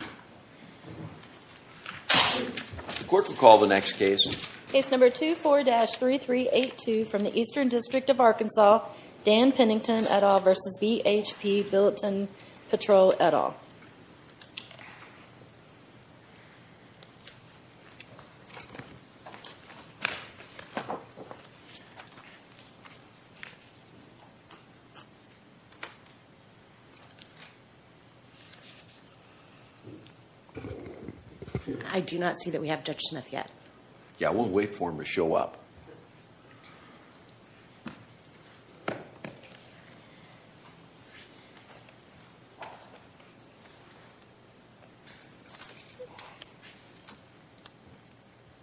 The court will call the next case. Case number 24-3382 from the Eastern District of Arkansas, Dan Pennington et al. v. BHP Billiton Petrol et al. I do not see that we have Judge Smith yet. Yeah, we'll wait for him to show up.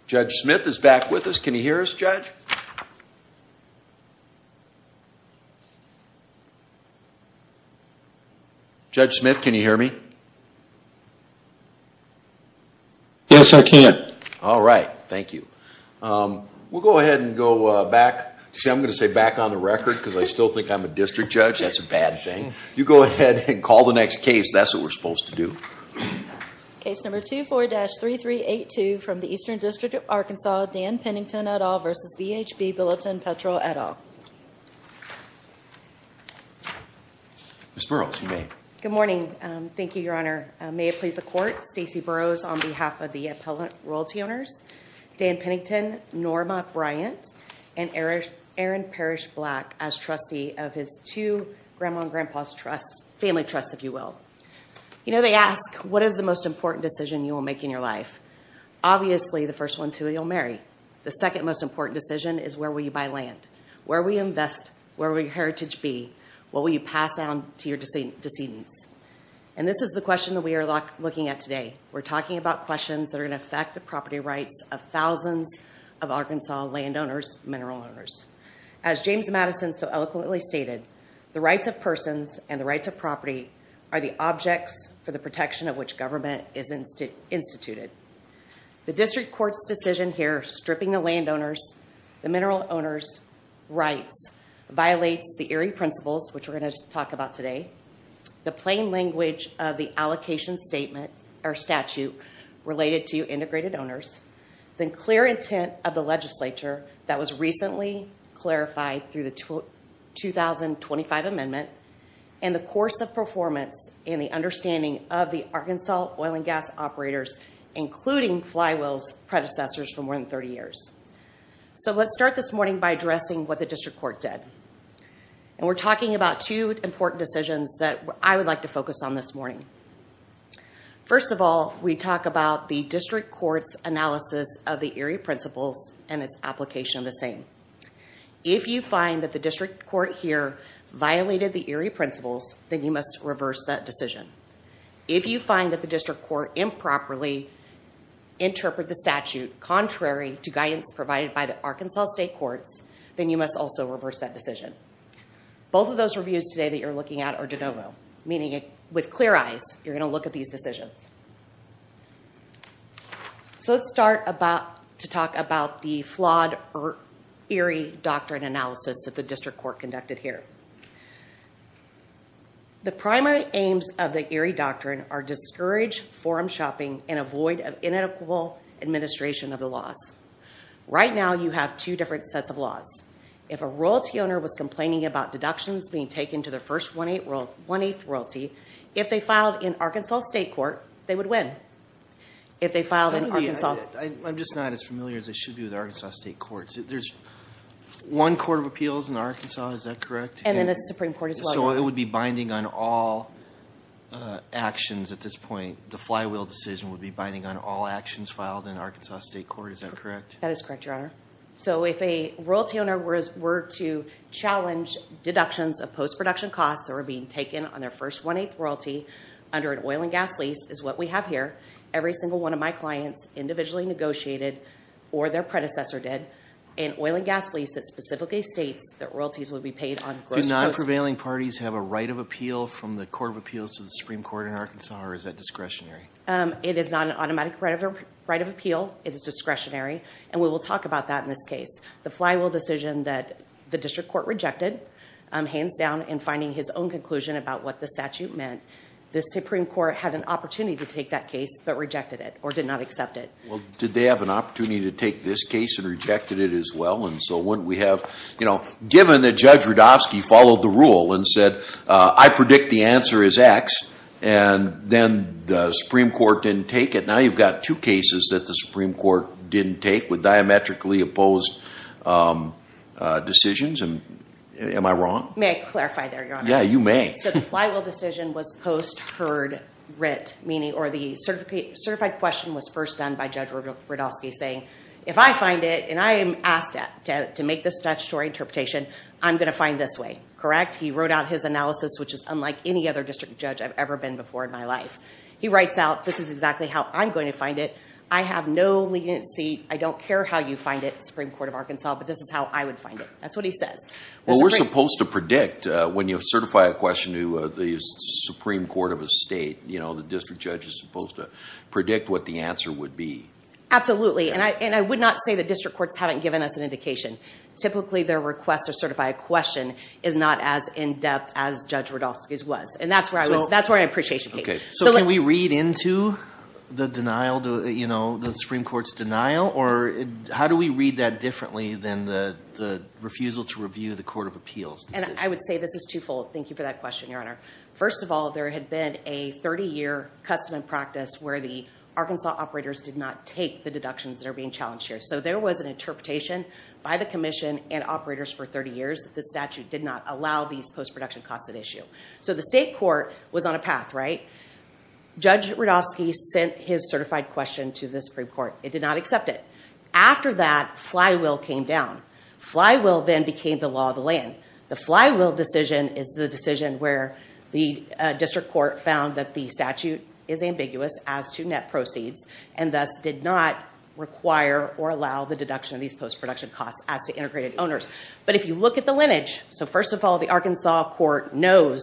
Judge Smith is back with us. Can you hear us, Judge? Judge? Judge Smith, can you hear me? Yes, I can. All right. Thank you. We'll go ahead and go back. See, I'm going to say back on the record because I still think I'm a district judge. That's a bad thing. You go ahead and call the next case. That's what we're supposed to do. Case number 24-3382 from the Eastern District of Arkansas, Dan Pennington et al. v. BHP Billiton Petrol et al. Ms. Burroughs, you may. Good morning. Thank you, Your Honor. May it please the court, Stacey Burroughs on behalf of the appellant royalty owners, Dan Pennington, Norma Bryant, and Aaron Parrish Black as trustee of his two grandma and grandpa's trusts, family trusts, if you will. You know, they ask, what is the most important decision you will make in your life? Obviously, the first one is who you'll marry. The second most important decision is where will you buy land? Where will you invest? Where will your heritage be? What will you pass down to your descendants? And this is the question that we are looking at today. We're talking about questions that are going to affect the property rights of thousands of Arkansas landowners, mineral owners. As James Madison so eloquently stated, the rights of persons and the rights of property are the objects for the protection of which government is instituted. The district court's decision here, stripping the landowners, the mineral owners' rights, violates the eerie principles, which we're going to talk about today, the plain language of the allocation statute related to integrated owners, the clear intent of the legislature that was recently clarified through the 2025 amendment, and the course of performance and the understanding of the Arkansas oil and gas operators, including Flywheel's predecessors for more than 30 years. So let's start this morning by addressing what the district court did. And we're talking about two important decisions that I would like to focus on this morning. First of all, we talk about the district court's analysis of the eerie principles and its application of the same. If you find that the district court here violated the eerie principles, then you must reverse that decision. If you find that the district court improperly interpreted the statute contrary to guidance provided by the Arkansas state courts, then you must also reverse that decision. Both of those reviews today that you're looking at are de novo, meaning with clear eyes, you're going to look at these decisions. So let's start to talk about the flawed eerie doctrine analysis that the district court conducted here. The primary aims of the eerie doctrine are discourage forum shopping and avoid of inadequate administration of the laws. Right now, you have two different sets of laws. If a royalty owner was complaining about deductions being taken to their first one-eighth royalty, if they filed in Arkansas state court, they would win. If they filed in Arkansas... I'm just not as familiar as I should be with Arkansas state courts. There's one court of appeals in Arkansas, is that correct? And then a Supreme Court as well. So it would be binding on all actions at this point. The Flywheel decision would be binding on all actions filed in Arkansas state court, is that correct? That is correct, Your Honor. So if a royalty owner were to challenge deductions of post-production costs that were being taken on their first one-eighth royalty under an oil and gas lease, is what we have here. Every single one of my clients individually negotiated, or their predecessor did, an oil and gas lease that specifically states that royalties would be paid on gross... Do non-prevailing parties have a right of appeal from the court of appeals to the Supreme Court in Arkansas, or is that discretionary? It is not an automatic right of appeal. It is discretionary, and we will talk about that in this case. The Flywheel decision that the district court rejected, hands down, in finding his own conclusion about what the statute meant, the Supreme Court had an opportunity to take that case, but rejected it, or did not accept it. Well, did they have an opportunity to take this case and rejected it as well? And so wouldn't we have... Given that Judge Rudofsky followed the rule and said, I predict the answer is X, and then the Supreme Court didn't take it, now you've got two cases that the Supreme Court didn't take with diametrically opposed decisions, and am I wrong? May I clarify there, Your Honor? Yeah, you may. Okay, so the Flywheel decision was post-heard writ, meaning, or the certified question was first done by Judge Rudofsky saying, if I find it, and I am asked to make this statutory interpretation, I'm going to find this way, correct? He wrote out his analysis, which is unlike any other district judge I've ever been before in my life. He writes out, this is exactly how I'm going to find it. I have no leniency. I don't care how you find it, Supreme Court of Arkansas, but this is how I would find it. That's what he says. Well, we're supposed to predict. When you certify a question to the Supreme Court of a state, the district judge is supposed to predict what the answer would be. Absolutely, and I would not say the district courts haven't given us an indication. Typically, their request to certify a question is not as in-depth as Judge Rudofsky's was, and that's where my appreciation came from. So can we read into the Supreme Court's denial, or how do we read that differently than the refusal to review the Court of Appeals? And I would say this is twofold. Thank you for that question, Your Honor. First of all, there had been a 30-year custom and practice where the Arkansas operators did not take the deductions that are being challenged here. So there was an interpretation by the commission and operators for 30 years that the statute did not allow these post-production costs at issue. So the state court was on a path, right? Judge Rudofsky sent his certified question to the Supreme Court. It did not accept it. After that, flywheel came down. Flywheel then became the law of the land. The flywheel decision is the decision where the district court found that the statute is ambiguous as to net proceeds, and thus did not require or allow the deduction of these post-production costs as to integrated owners. But if you look at the lineage, so first of all, the Arkansas court knows,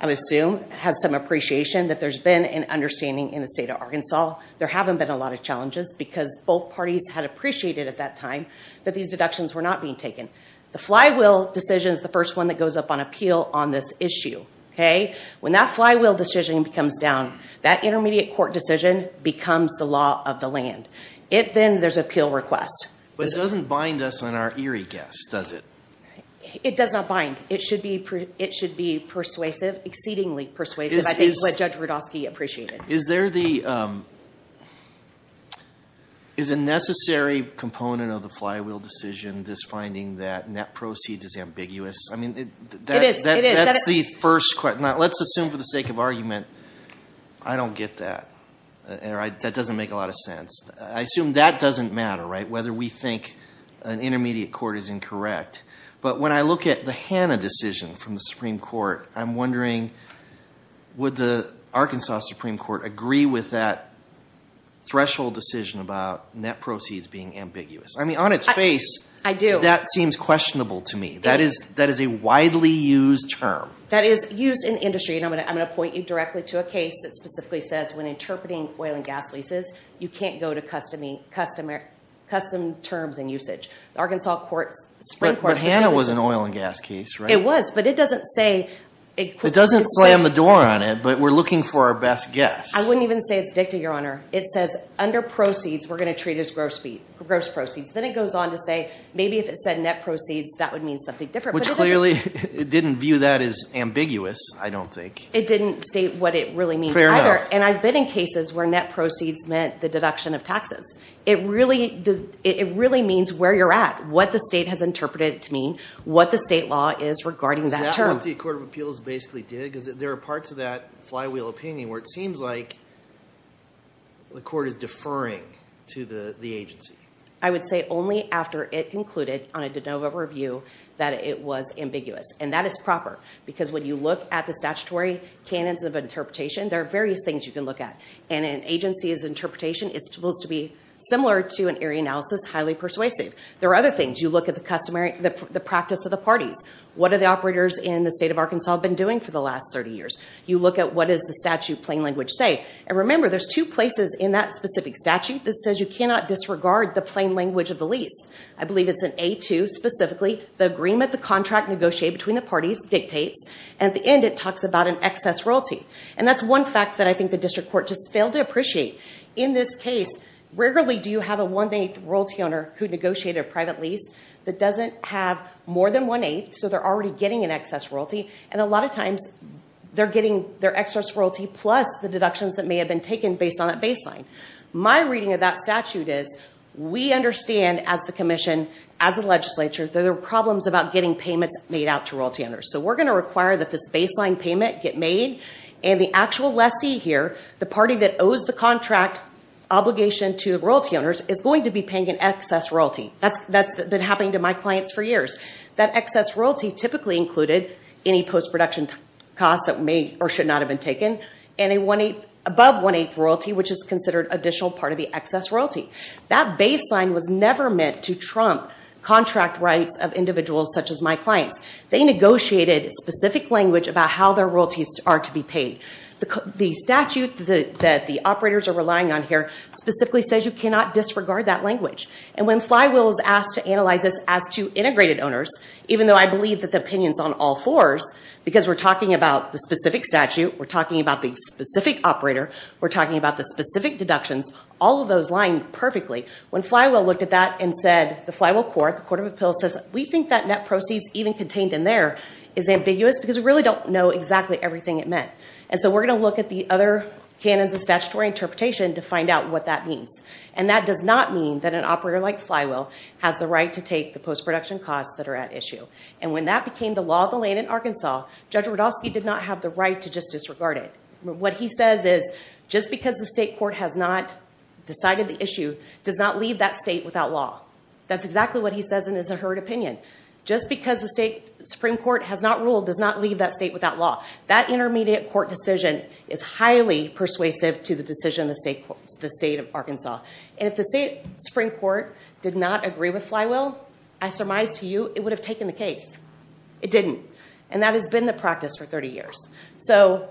I would assume, has some appreciation that there's been an understanding in the state of Arkansas. There haven't been a lot of challenges because both parties had appreciated at that time that these deductions were not being taken. The flywheel decision is the first one that goes up on appeal on this issue, okay? When that flywheel decision comes down, that intermediate court decision becomes the law of the land. Then there's appeal request. But it doesn't bind us on our eerie guess, does it? It does not bind. It should be persuasive, exceedingly persuasive, I think is what Judge Rudofsky appreciated. Is there the ñ is a necessary component of the flywheel decision this finding that net proceeds is ambiguous? I mean, that's the first question. Let's assume for the sake of argument, I don't get that. That doesn't make a lot of sense. I assume that doesn't matter, right, whether we think an intermediate court is incorrect. But when I look at the Hanna decision from the Supreme Court, I'm wondering would the Arkansas Supreme Court agree with that threshold decision about net proceeds being ambiguous? I mean, on its face, that seems questionable to me. That is a widely used term. That is used in industry, and I'm going to point you directly to a case that specifically says when interpreting oil and gas leases, you can't go to custom terms and usage. The Arkansas Supreme Court's decision ñ But Hanna was an oil and gas case, right? It was, but it doesn't say ñ It doesn't slam the door on it, but we're looking for our best guess. I wouldn't even say it's dicta, Your Honor. It says under proceeds, we're going to treat it as gross proceeds. Then it goes on to say maybe if it said net proceeds, that would mean something different. Which clearly didn't view that as ambiguous, I don't think. It didn't state what it really means either. And I've been in cases where net proceeds meant the deduction of taxes. It really means where you're at, what the state has interpreted it to mean, what the state law is regarding that term. Is that what the Court of Appeals basically did? Because there are parts of that flywheel opinion where it seems like the court is deferring to the agency. I would say only after it concluded on a de novo review that it was ambiguous, and that is proper. Because when you look at the statutory canons of interpretation, there are various things you can look at. And an agency's interpretation is supposed to be similar to an area analysis, highly persuasive. There are other things. You look at the practice of the parties. What have the operators in the state of Arkansas been doing for the last 30 years? You look at what does the statute plain language say. And remember, there's two places in that specific statute that says you cannot disregard the plain language of the lease. I believe it's in A2 specifically. The agreement, the contract negotiated between the parties dictates. And at the end, it talks about an excess royalty. And that's one fact that I think the district court just failed to appreciate. In this case, rarely do you have a one-eighth royalty owner who negotiated a private lease that doesn't have more than one-eighth. So they're already getting an excess royalty. And a lot of times, they're getting their excess royalty plus the deductions that may have been taken based on that baseline. My reading of that statute is we understand as the commission, as the legislature, that there are problems about getting payments made out to royalty owners. So we're going to require that this baseline payment get made. And the actual lessee here, the party that owes the contract obligation to royalty owners, is going to be paying an excess royalty. That's been happening to my clients for years. That excess royalty typically included any post-production costs that may or should not have been taken. And above one-eighth royalty, which is considered additional part of the excess royalty. That baseline was never meant to trump contract rights of individuals such as my clients. They negotiated specific language about how their royalties are to be paid. The statute that the operators are relying on here specifically says you cannot disregard that language. And when Flywheel was asked to analyze this as to integrated owners, even though I believe that the opinion is on all fours, because we're talking about the specific statute. We're talking about the specific operator. We're talking about the specific deductions. All of those line perfectly. When Flywheel looked at that and said the Flywheel Court, the Court of Appeals, says we think that net proceeds even contained in there is ambiguous because we really don't know exactly everything it meant. And so we're going to look at the other canons of statutory interpretation to find out what that means. And that does not mean that an operator like Flywheel has the right to take the post-production costs that are at issue. And when that became the law of the land in Arkansas, Judge Rudofsky did not have the right to just disregard it. What he says is just because the state court has not decided the issue does not leave that state without law. That's exactly what he says in his heard opinion. Just because the state Supreme Court has not ruled does not leave that state without law. That intermediate court decision is highly persuasive to the decision of the state of Arkansas. And if the state Supreme Court did not agree with Flywheel, I surmise to you it would have taken the case. It didn't. And that has been the practice for 30 years. So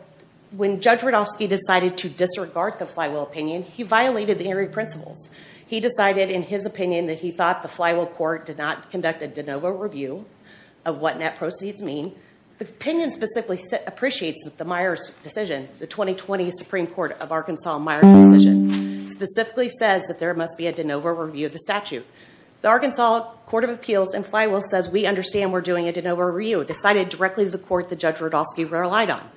when Judge Rudofsky decided to disregard the Flywheel opinion, he violated the Injury Principles. He decided in his opinion that he thought the Flywheel Court did not conduct a de novo review of what net proceeds mean. The opinion specifically appreciates that the Myers decision, the 2020 Supreme Court of Arkansas Myers decision, specifically says that there must be a de novo review of the statute. The Arkansas Court of Appeals and Flywheel says we understand we're doing a de novo review. It was decided directly to the court that Judge Rudofsky relied on.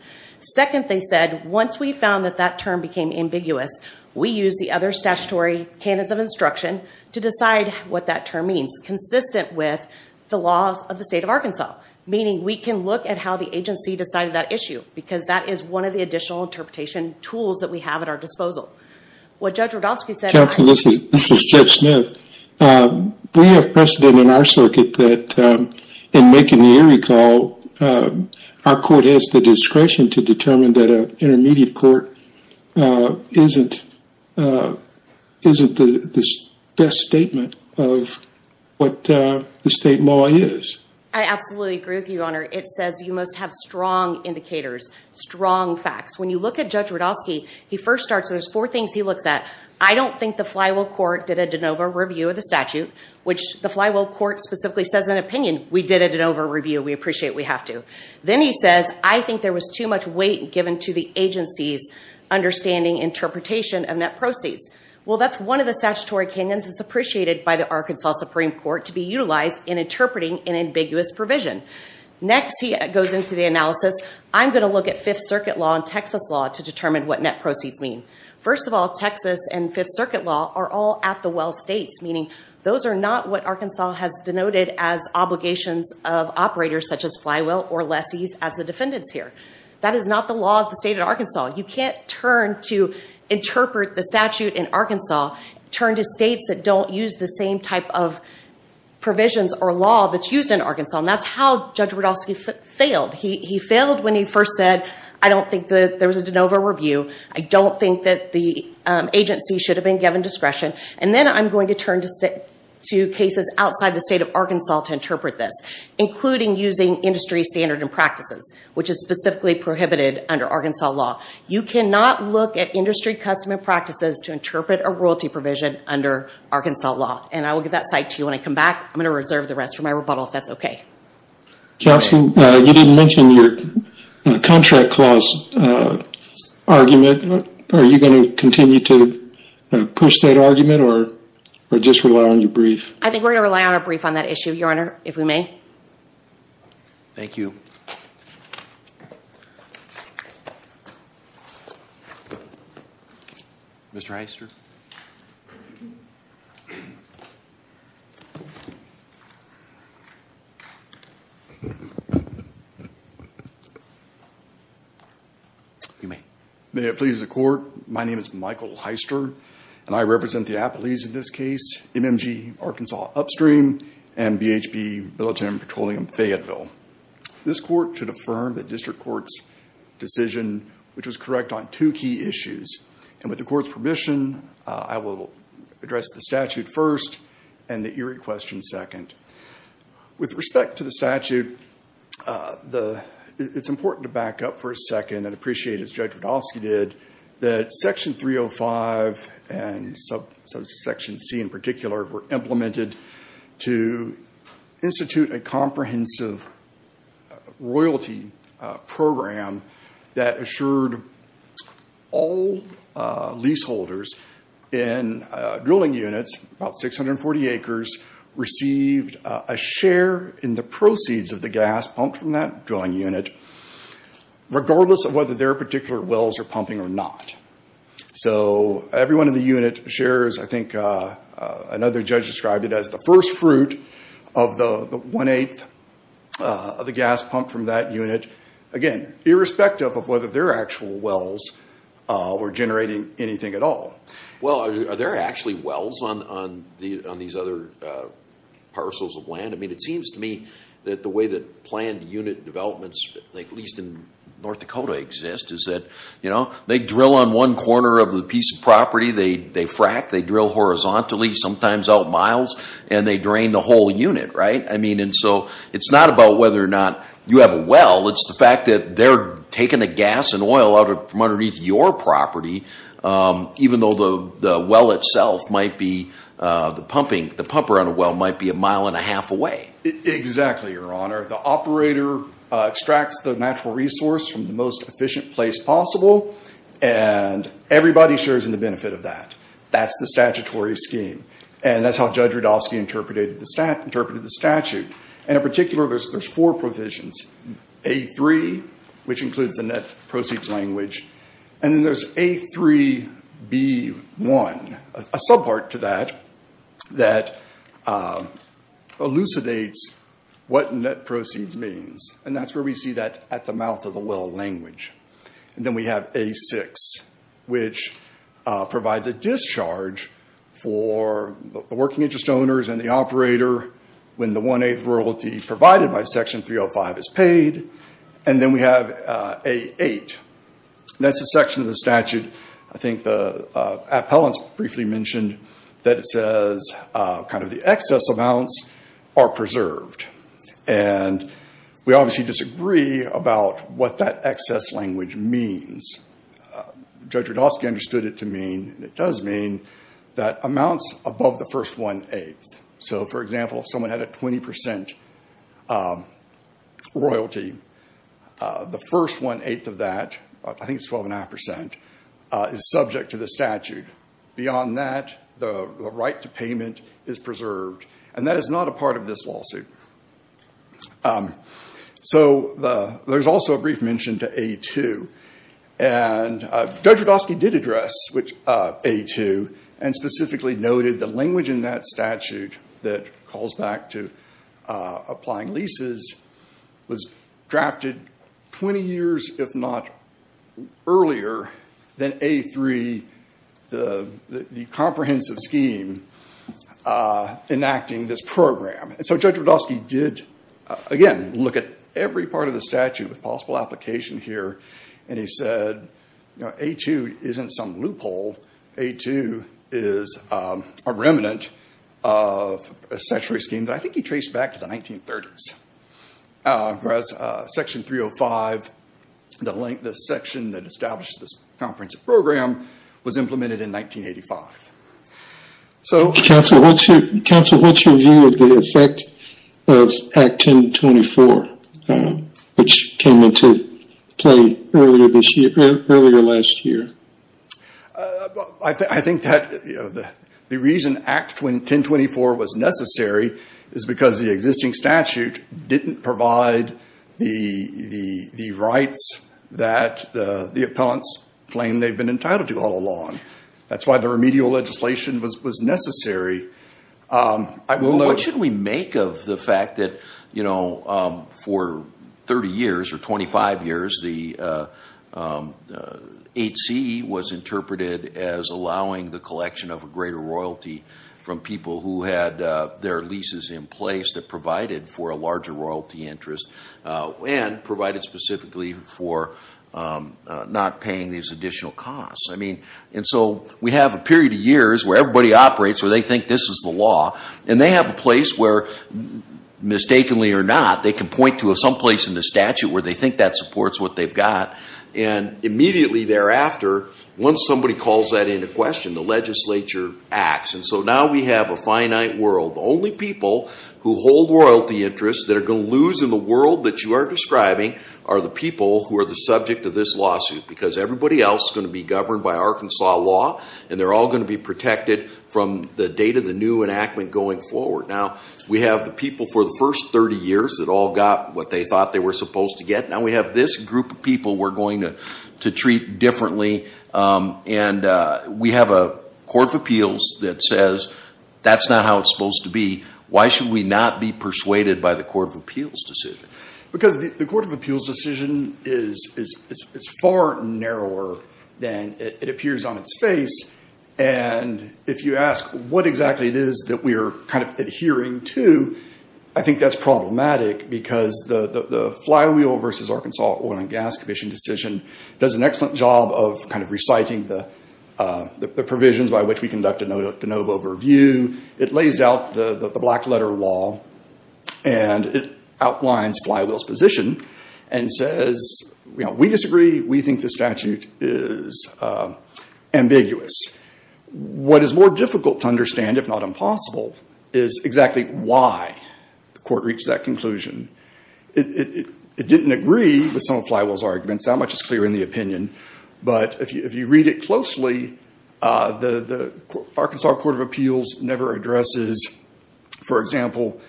Second, they said, once we found that that term became ambiguous, we used the other statutory canons of instruction to decide what that term means, consistent with the laws of the state of Arkansas, meaning we can look at how the agency decided that issue because that is one of the additional interpretation tools that we have at our disposal. What Judge Rudofsky said- Counsel, this is Jeff Smith. We have precedent in our circuit that in making the eerie call, our court has the discretion to determine that an intermediate court isn't the best statement of what the state law is. I absolutely agree with you, Your Honor. It says you must have strong indicators, strong facts. When you look at Judge Rudofsky, he first starts, there's four things he looks at. I don't think the Flywheel Court did a de novo review of the statute, which the Flywheel Court specifically says in an opinion, we did a de novo review. We appreciate we have to. Then he says, I think there was too much weight given to the agency's understanding, interpretation of net proceeds. Well, that's one of the statutory opinions that's appreciated by the Arkansas Supreme Court to be utilized in interpreting an ambiguous provision. Next, he goes into the analysis. I'm going to look at Fifth Circuit law and Texas law to determine what net proceeds mean. First of all, Texas and Fifth Circuit law are all at-the-well states, meaning those are not what Arkansas has denoted as obligations of operators such as Flywheel or lessees as the defendants here. That is not the law of the state of Arkansas. You can't turn to interpret the statute in Arkansas, turn to states that don't use the same type of provisions or law that's used in Arkansas, and that's how Judge Rudofsky failed. He failed when he first said, I don't think that there was a de novo review. I don't think that the agency should have been given discretion. And then I'm going to turn to cases outside the state of Arkansas to interpret this, including using industry standard and practices, which is specifically prohibited under Arkansas law. You cannot look at industry custom and practices to interpret a royalty provision under Arkansas law. And I will give that site to you when I come back. I'm going to reserve the rest for my rebuttal if that's okay. Counsel, you didn't mention your contract clause argument. Are you going to continue to push that argument or just rely on your brief? I think we're going to rely on our brief on that issue, Your Honor, if we may. Thank you. Mr. Hyster. You may. May it please the court, my name is Michael Hyster, and I represent the Appalachians in this case, MMG Arkansas Upstream, and BHB Billiton Petroleum Fayetteville. This court should affirm the district court's decision, which was correct on two key issues. And with the court's permission, I will address the statute first and the eerie question second. With respect to the statute, it's important to back up for a second and appreciate, as Judge Rudofsky did, that section 305 and section C in particular were implemented to institute a comprehensive royalty program that assured all leaseholders in drilling units, about 640 acres, received a share in the proceeds of the gas pumped from that drilling unit, regardless of whether their particular wells are pumping or not. So everyone in the unit shares, I think another judge described it as, the first fruit of the one-eighth of the gas pumped from that unit, again, irrespective of whether their actual wells were generating anything at all. Well, are there actually wells on these other parcels of land? I mean, it seems to me that the way that planned unit developments, at least in North Dakota, exist, is that they drill on one corner of the piece of property, they frack, they drill horizontally, sometimes out miles, and they drain the whole unit, right? I mean, and so it's not about whether or not you have a well, it's the fact that they're taking the gas and oil out from underneath your property, even though the well itself might be, the pumper on a well might be a mile and a half away. Exactly, Your Honor. The operator extracts the natural resource from the most efficient place possible, and everybody shares in the benefit of that. That's the statutory scheme. And that's how Judge Rudofsky interpreted the statute. And in particular, there's four provisions. A3, which includes the net proceeds language, and then there's A3B1, a subpart to that that elucidates what net proceeds means, and that's where we see that at the mouth of the well language. And then we have A6, which provides a discharge for the working interest owners and the operator when the one-eighth royalty provided by Section 305 is paid. And then we have A8. That's a section of the statute, I think the appellants briefly mentioned, that says kind of the excess amounts are preserved. And we obviously disagree about what that excess language means. Judge Rudofsky understood it to mean, and it does mean, that amounts above the first one-eighth. So, for example, if someone had a 20% royalty, the first one-eighth of that, I think it's 12.5%, is subject to the statute. Beyond that, the right to payment is preserved. And that is not a part of this lawsuit. So there's also a brief mention to A2. And Judge Rudofsky did address A2 and specifically noted the language in that statute that calls back to applying leases was drafted 20 years, if not earlier, than A3, the comprehensive scheme enacting this program. And so Judge Rudofsky did, again, look at every part of the statute with possible application here. And he said, you know, A2 isn't some loophole. A2 is a remnant of a statutory scheme that I think he traced back to the 1930s. Whereas Section 305, the section that established this comprehensive program, was implemented in 1985. So, Counsel, what's your view of the effect of Act 1024, which came into play earlier this year, earlier last year? I think that the reason Act 1024 was necessary is because the existing statute didn't provide the rights that the appellants claim they've been entitled to all along. That's why the remedial legislation was necessary. What should we make of the fact that, you know, for 30 years or 25 years, the 8C was interpreted as allowing the collection of a greater royalty from people who had their leases in place that provided for a larger royalty interest and provided specifically for not paying these additional costs? I mean, and so we have a period of years where everybody operates where they think this is the law. And they have a place where, mistakenly or not, they can point to someplace in the statute where they think that supports what they've got. And immediately thereafter, once somebody calls that into question, the legislature acts. And so now we have a finite world. The only people who hold royalty interests that are going to lose in the world that you are describing are the people who are the subject of this lawsuit. Because everybody else is going to be governed by Arkansas law, and they're all going to be protected from the date of the new enactment going forward. Now, we have the people for the first 30 years that all got what they thought they were supposed to get. Now we have this group of people we're going to treat differently. And we have a court of appeals that says that's not how it's supposed to be. Why should we not be persuaded by the court of appeals decision? Because the court of appeals decision is far narrower than it appears on its face. And if you ask what exactly it is that we are kind of adhering to, I think that's problematic because the Flywheel v. Arkansas Oil and Gas Commission decision does an excellent job of kind of reciting the provisions by which we conduct a de novo review. It lays out the black letter law, and it outlines Flywheel's position, and says we disagree, we think the statute is ambiguous. What is more difficult to understand, if not impossible, is exactly why the court reached that conclusion. It didn't agree with some of Flywheel's arguments. That much is clear in the opinion. But if you read it closely, the Arkansas Court of Appeals never addresses, for example,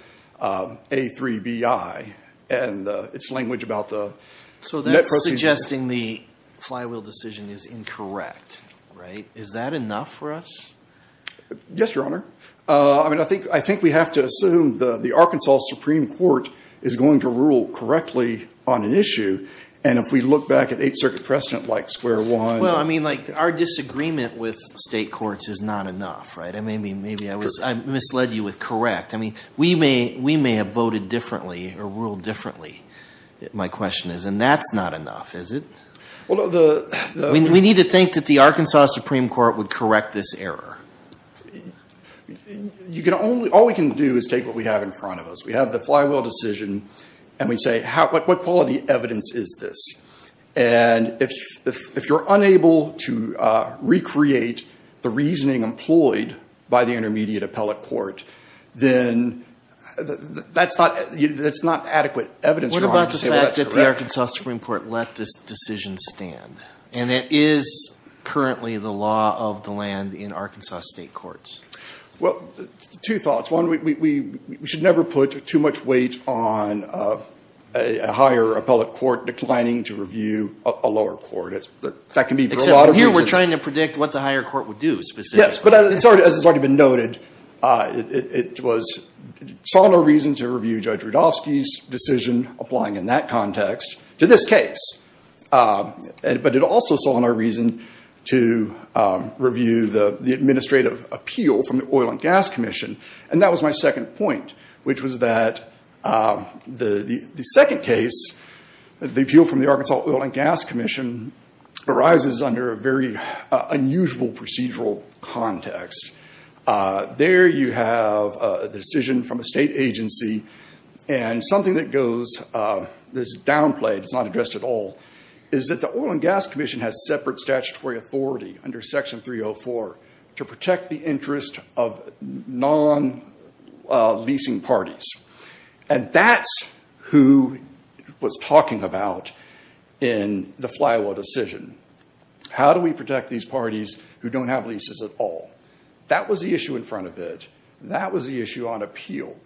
A3BI and its language about the net proceeds. So that's suggesting the Flywheel decision is incorrect, right? Is that enough for us? Yes, Your Honor. I mean, I think we have to assume the Arkansas Supreme Court is going to rule correctly on an issue. And if we look back at Eighth Circuit precedent like square one. Well, I mean, like our disagreement with state courts is not enough, right? I mean, maybe I misled you with correct. I mean, we may have voted differently or ruled differently, my question is. And that's not enough, is it? We need to think that the Arkansas Supreme Court would correct this error. All we can do is take what we have in front of us. We have the Flywheel decision, and we say, what quality evidence is this? And if you're unable to recreate the reasoning employed by the intermediate appellate court, then that's not adequate evidence, Your Honor. What about the fact that the Arkansas Supreme Court let this decision stand? And it is currently the law of the land in Arkansas state courts. Well, two thoughts. One, we should never put too much weight on a higher appellate court declining to review a lower court. That can be a lot of reasons. Except here we're trying to predict what the higher court would do specifically. Yes, but as has already been noted, it saw no reason to review Judge Rudofsky's decision applying in that context to this case. But it also saw no reason to review the administrative appeal from the Oil and Gas Commission. And that was my second point, which was that the second case, the appeal from the Arkansas Oil and Gas Commission, arises under a very unusual procedural context. There you have the decision from a state agency. And something that goes, there's a downplay that's not addressed at all, is that the Oil and Gas Commission has separate statutory authority under Section 304 to protect the interest of non-leasing parties. And that's who was talking about in the Flywell decision. How do we protect these parties who don't have leases at all? That was the issue in front of it. That was the issue on appeal.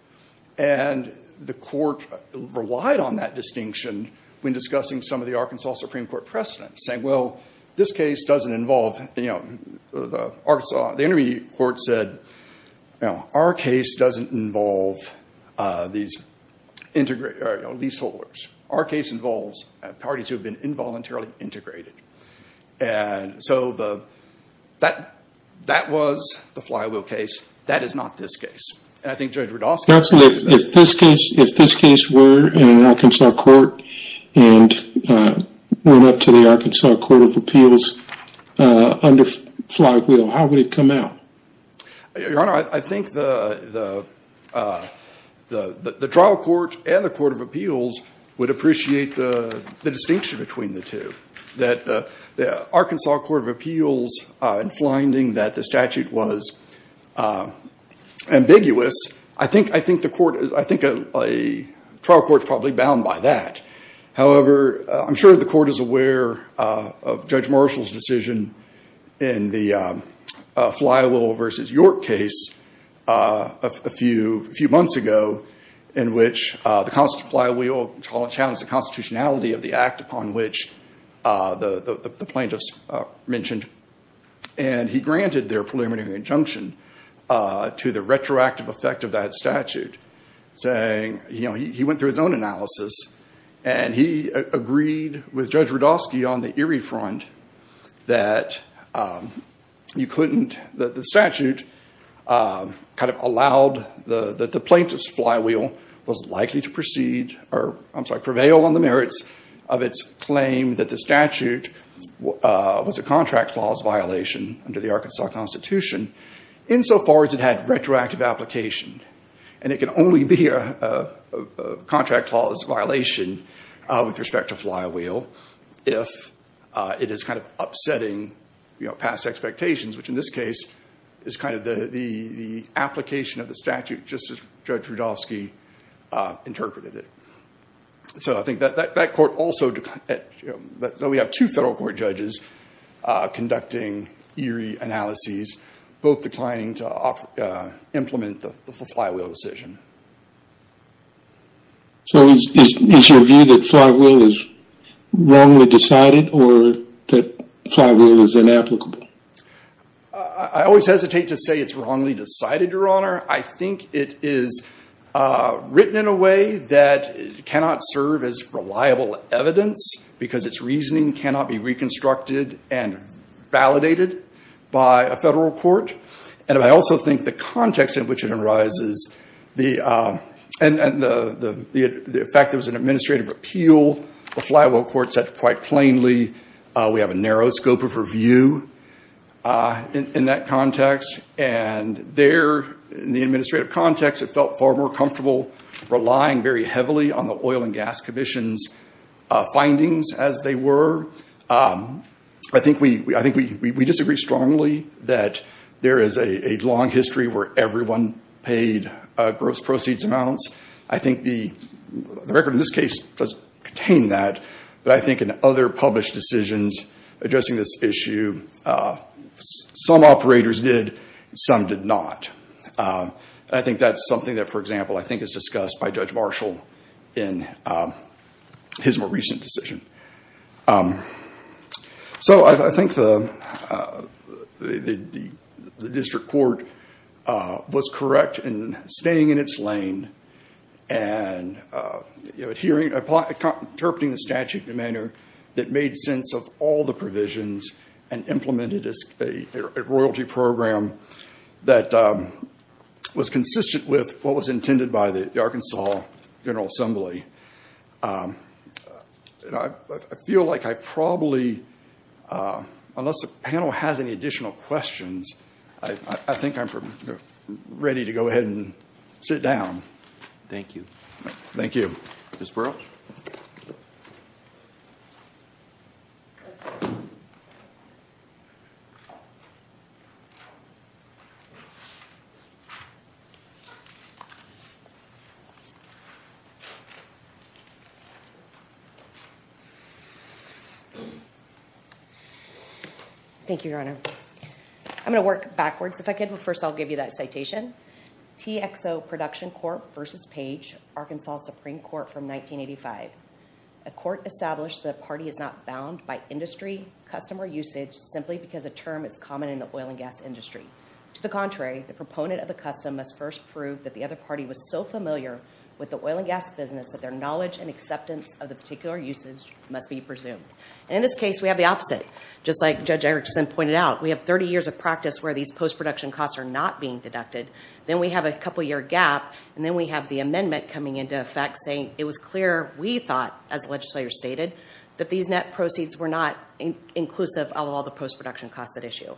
And the court relied on that distinction when discussing some of the Arkansas Supreme Court precedents. Saying, well, this case doesn't involve, the intermediate court said, our case doesn't involve these leaseholders. Our case involves parties who have been involuntarily integrated. And so that was the Flywell case. That is not this case. Counsel, if this case were in an Arkansas court and went up to the Arkansas Court of Appeals under Flywell, how would it come out? Your Honor, I think the trial court and the Court of Appeals would appreciate the distinction between the two. The Arkansas Court of Appeals, in finding that the statute was ambiguous, I think a trial court is probably bound by that. However, I'm sure the court is aware of Judge Marshall's decision in the Flywell v. York case a few months ago, in which the Constable Flywell challenged the constitutionality of the act upon which the plaintiffs mentioned. And he granted their preliminary injunction to the retroactive effect of that statute. Saying, you know, he went through his own analysis, and he agreed with Judge Rudofsky on the Erie front, that you couldn't, that the statute kind of allowed, that the plaintiff's flywheel was likely to proceed, or I'm sorry, prevail on the merits of its claim that the statute was a contract clause violation under the Arkansas Constitution, insofar as it had retroactive application. And it can only be a contract clause violation with respect to flywheel if it is kind of upsetting past expectations, which in this case is kind of the application of the statute, just as Judge Rudofsky interpreted it. So I think that court also, so we have two federal court judges conducting Erie analyses, both declining to implement the flywheel decision. So is your view that flywheel is wrongly decided, or that flywheel is inapplicable? I always hesitate to say it's wrongly decided, Your Honor. I think it is written in a way that cannot serve as reliable evidence, because its reasoning cannot be reconstructed and validated by a federal court. And I also think the context in which it arises, and the fact that it was an administrative appeal, the flywheel court said quite plainly, we have a narrow scope of review in that context. And there, in the administrative context, it felt far more comfortable relying very heavily on the Oil and Gas Commission's findings as they were. I think we disagree strongly that there is a long history where everyone paid gross proceeds amounts. I think the record in this case does contain that. But I think in other published decisions addressing this issue, some operators did, some did not. I think that's something that, for example, I think is discussed by Judge Marshall in his more recent decision. So I think the district court was correct in staying in its lane and interpreting the statute in a manner that made sense of all the provisions and implemented a royalty program that was consistent with what was intended by the Arkansas General Assembly. I feel like I probably, unless the panel has any additional questions, I think I'm ready to go ahead and sit down. Thank you. Thank you. Ms. Burrell? Thank you, Your Honor. I'm going to work backwards if I could. But first, I'll give you that citation. TXO Production Court v. Page, Arkansas Supreme Court from 1985. A court established the party is not bound by industry, customer usage, simply because a term is common in the oil and gas industry. To the contrary, the proponent of the custom must first prove that the other party was so familiar with the oil and gas business that their knowledge and acceptance of the particular usage must be presumed. And in this case, we have the opposite. Just like Judge Erickson pointed out, we have 30 years of practice where these post-production costs are not being deducted. Then we have a couple-year gap. And then we have the amendment coming into effect saying it was clear we thought, as the legislator stated, that these net proceeds were not inclusive of all the post-production costs at issue.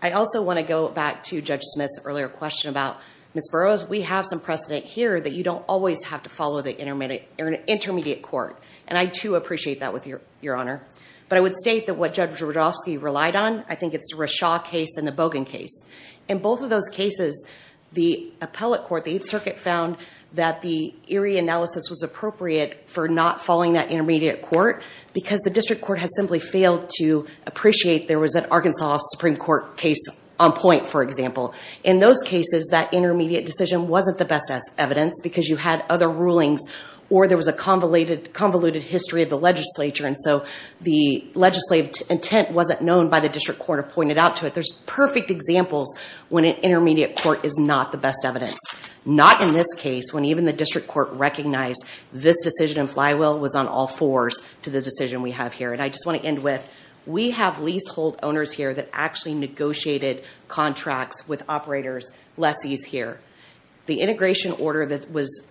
I also want to go back to Judge Smith's earlier question about Ms. Burrows. We have some precedent here that you don't always have to follow the intermediate court. And I, too, appreciate that with you, Your Honor. But I would state that what Judge Rudofsky relied on, I think it's the Rashaw case and the Bogan case. In both of those cases, the appellate court, the Eighth Circuit, found that the Erie analysis was appropriate for not following that intermediate court because the district court had simply failed to appreciate there was an Arkansas Supreme Court case on point, for example. In those cases, that intermediate decision wasn't the best evidence because you had other rulings or there was a convoluted history of the legislature. And so the legislative intent wasn't known by the district court or pointed out to it. There's perfect examples when an intermediate court is not the best evidence. Not in this case, when even the district court recognized this decision in Flywheel was on all fours to the decision we have here. And I just want to end with, we have leasehold owners here that actually negotiated contracts with operators, lessees here. The integration order that was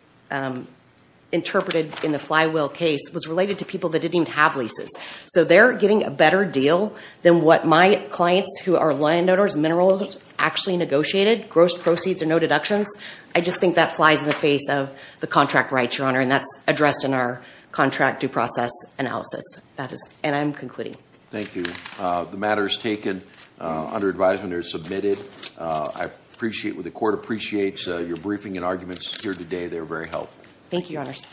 interpreted in the Flywheel case was related to people that didn't even have leases. So they're getting a better deal than what my clients who are landowners, minerals, actually negotiated. Gross proceeds or no deductions. I just think that flies in the face of the contract rights, Your Honor. And that's addressed in our contract due process analysis. And I'm concluding. Thank you. The matter is taken under advisement or submitted. I appreciate what the court appreciates. Your briefing and arguments here today, they were very helpful. Thank you, Your Honors.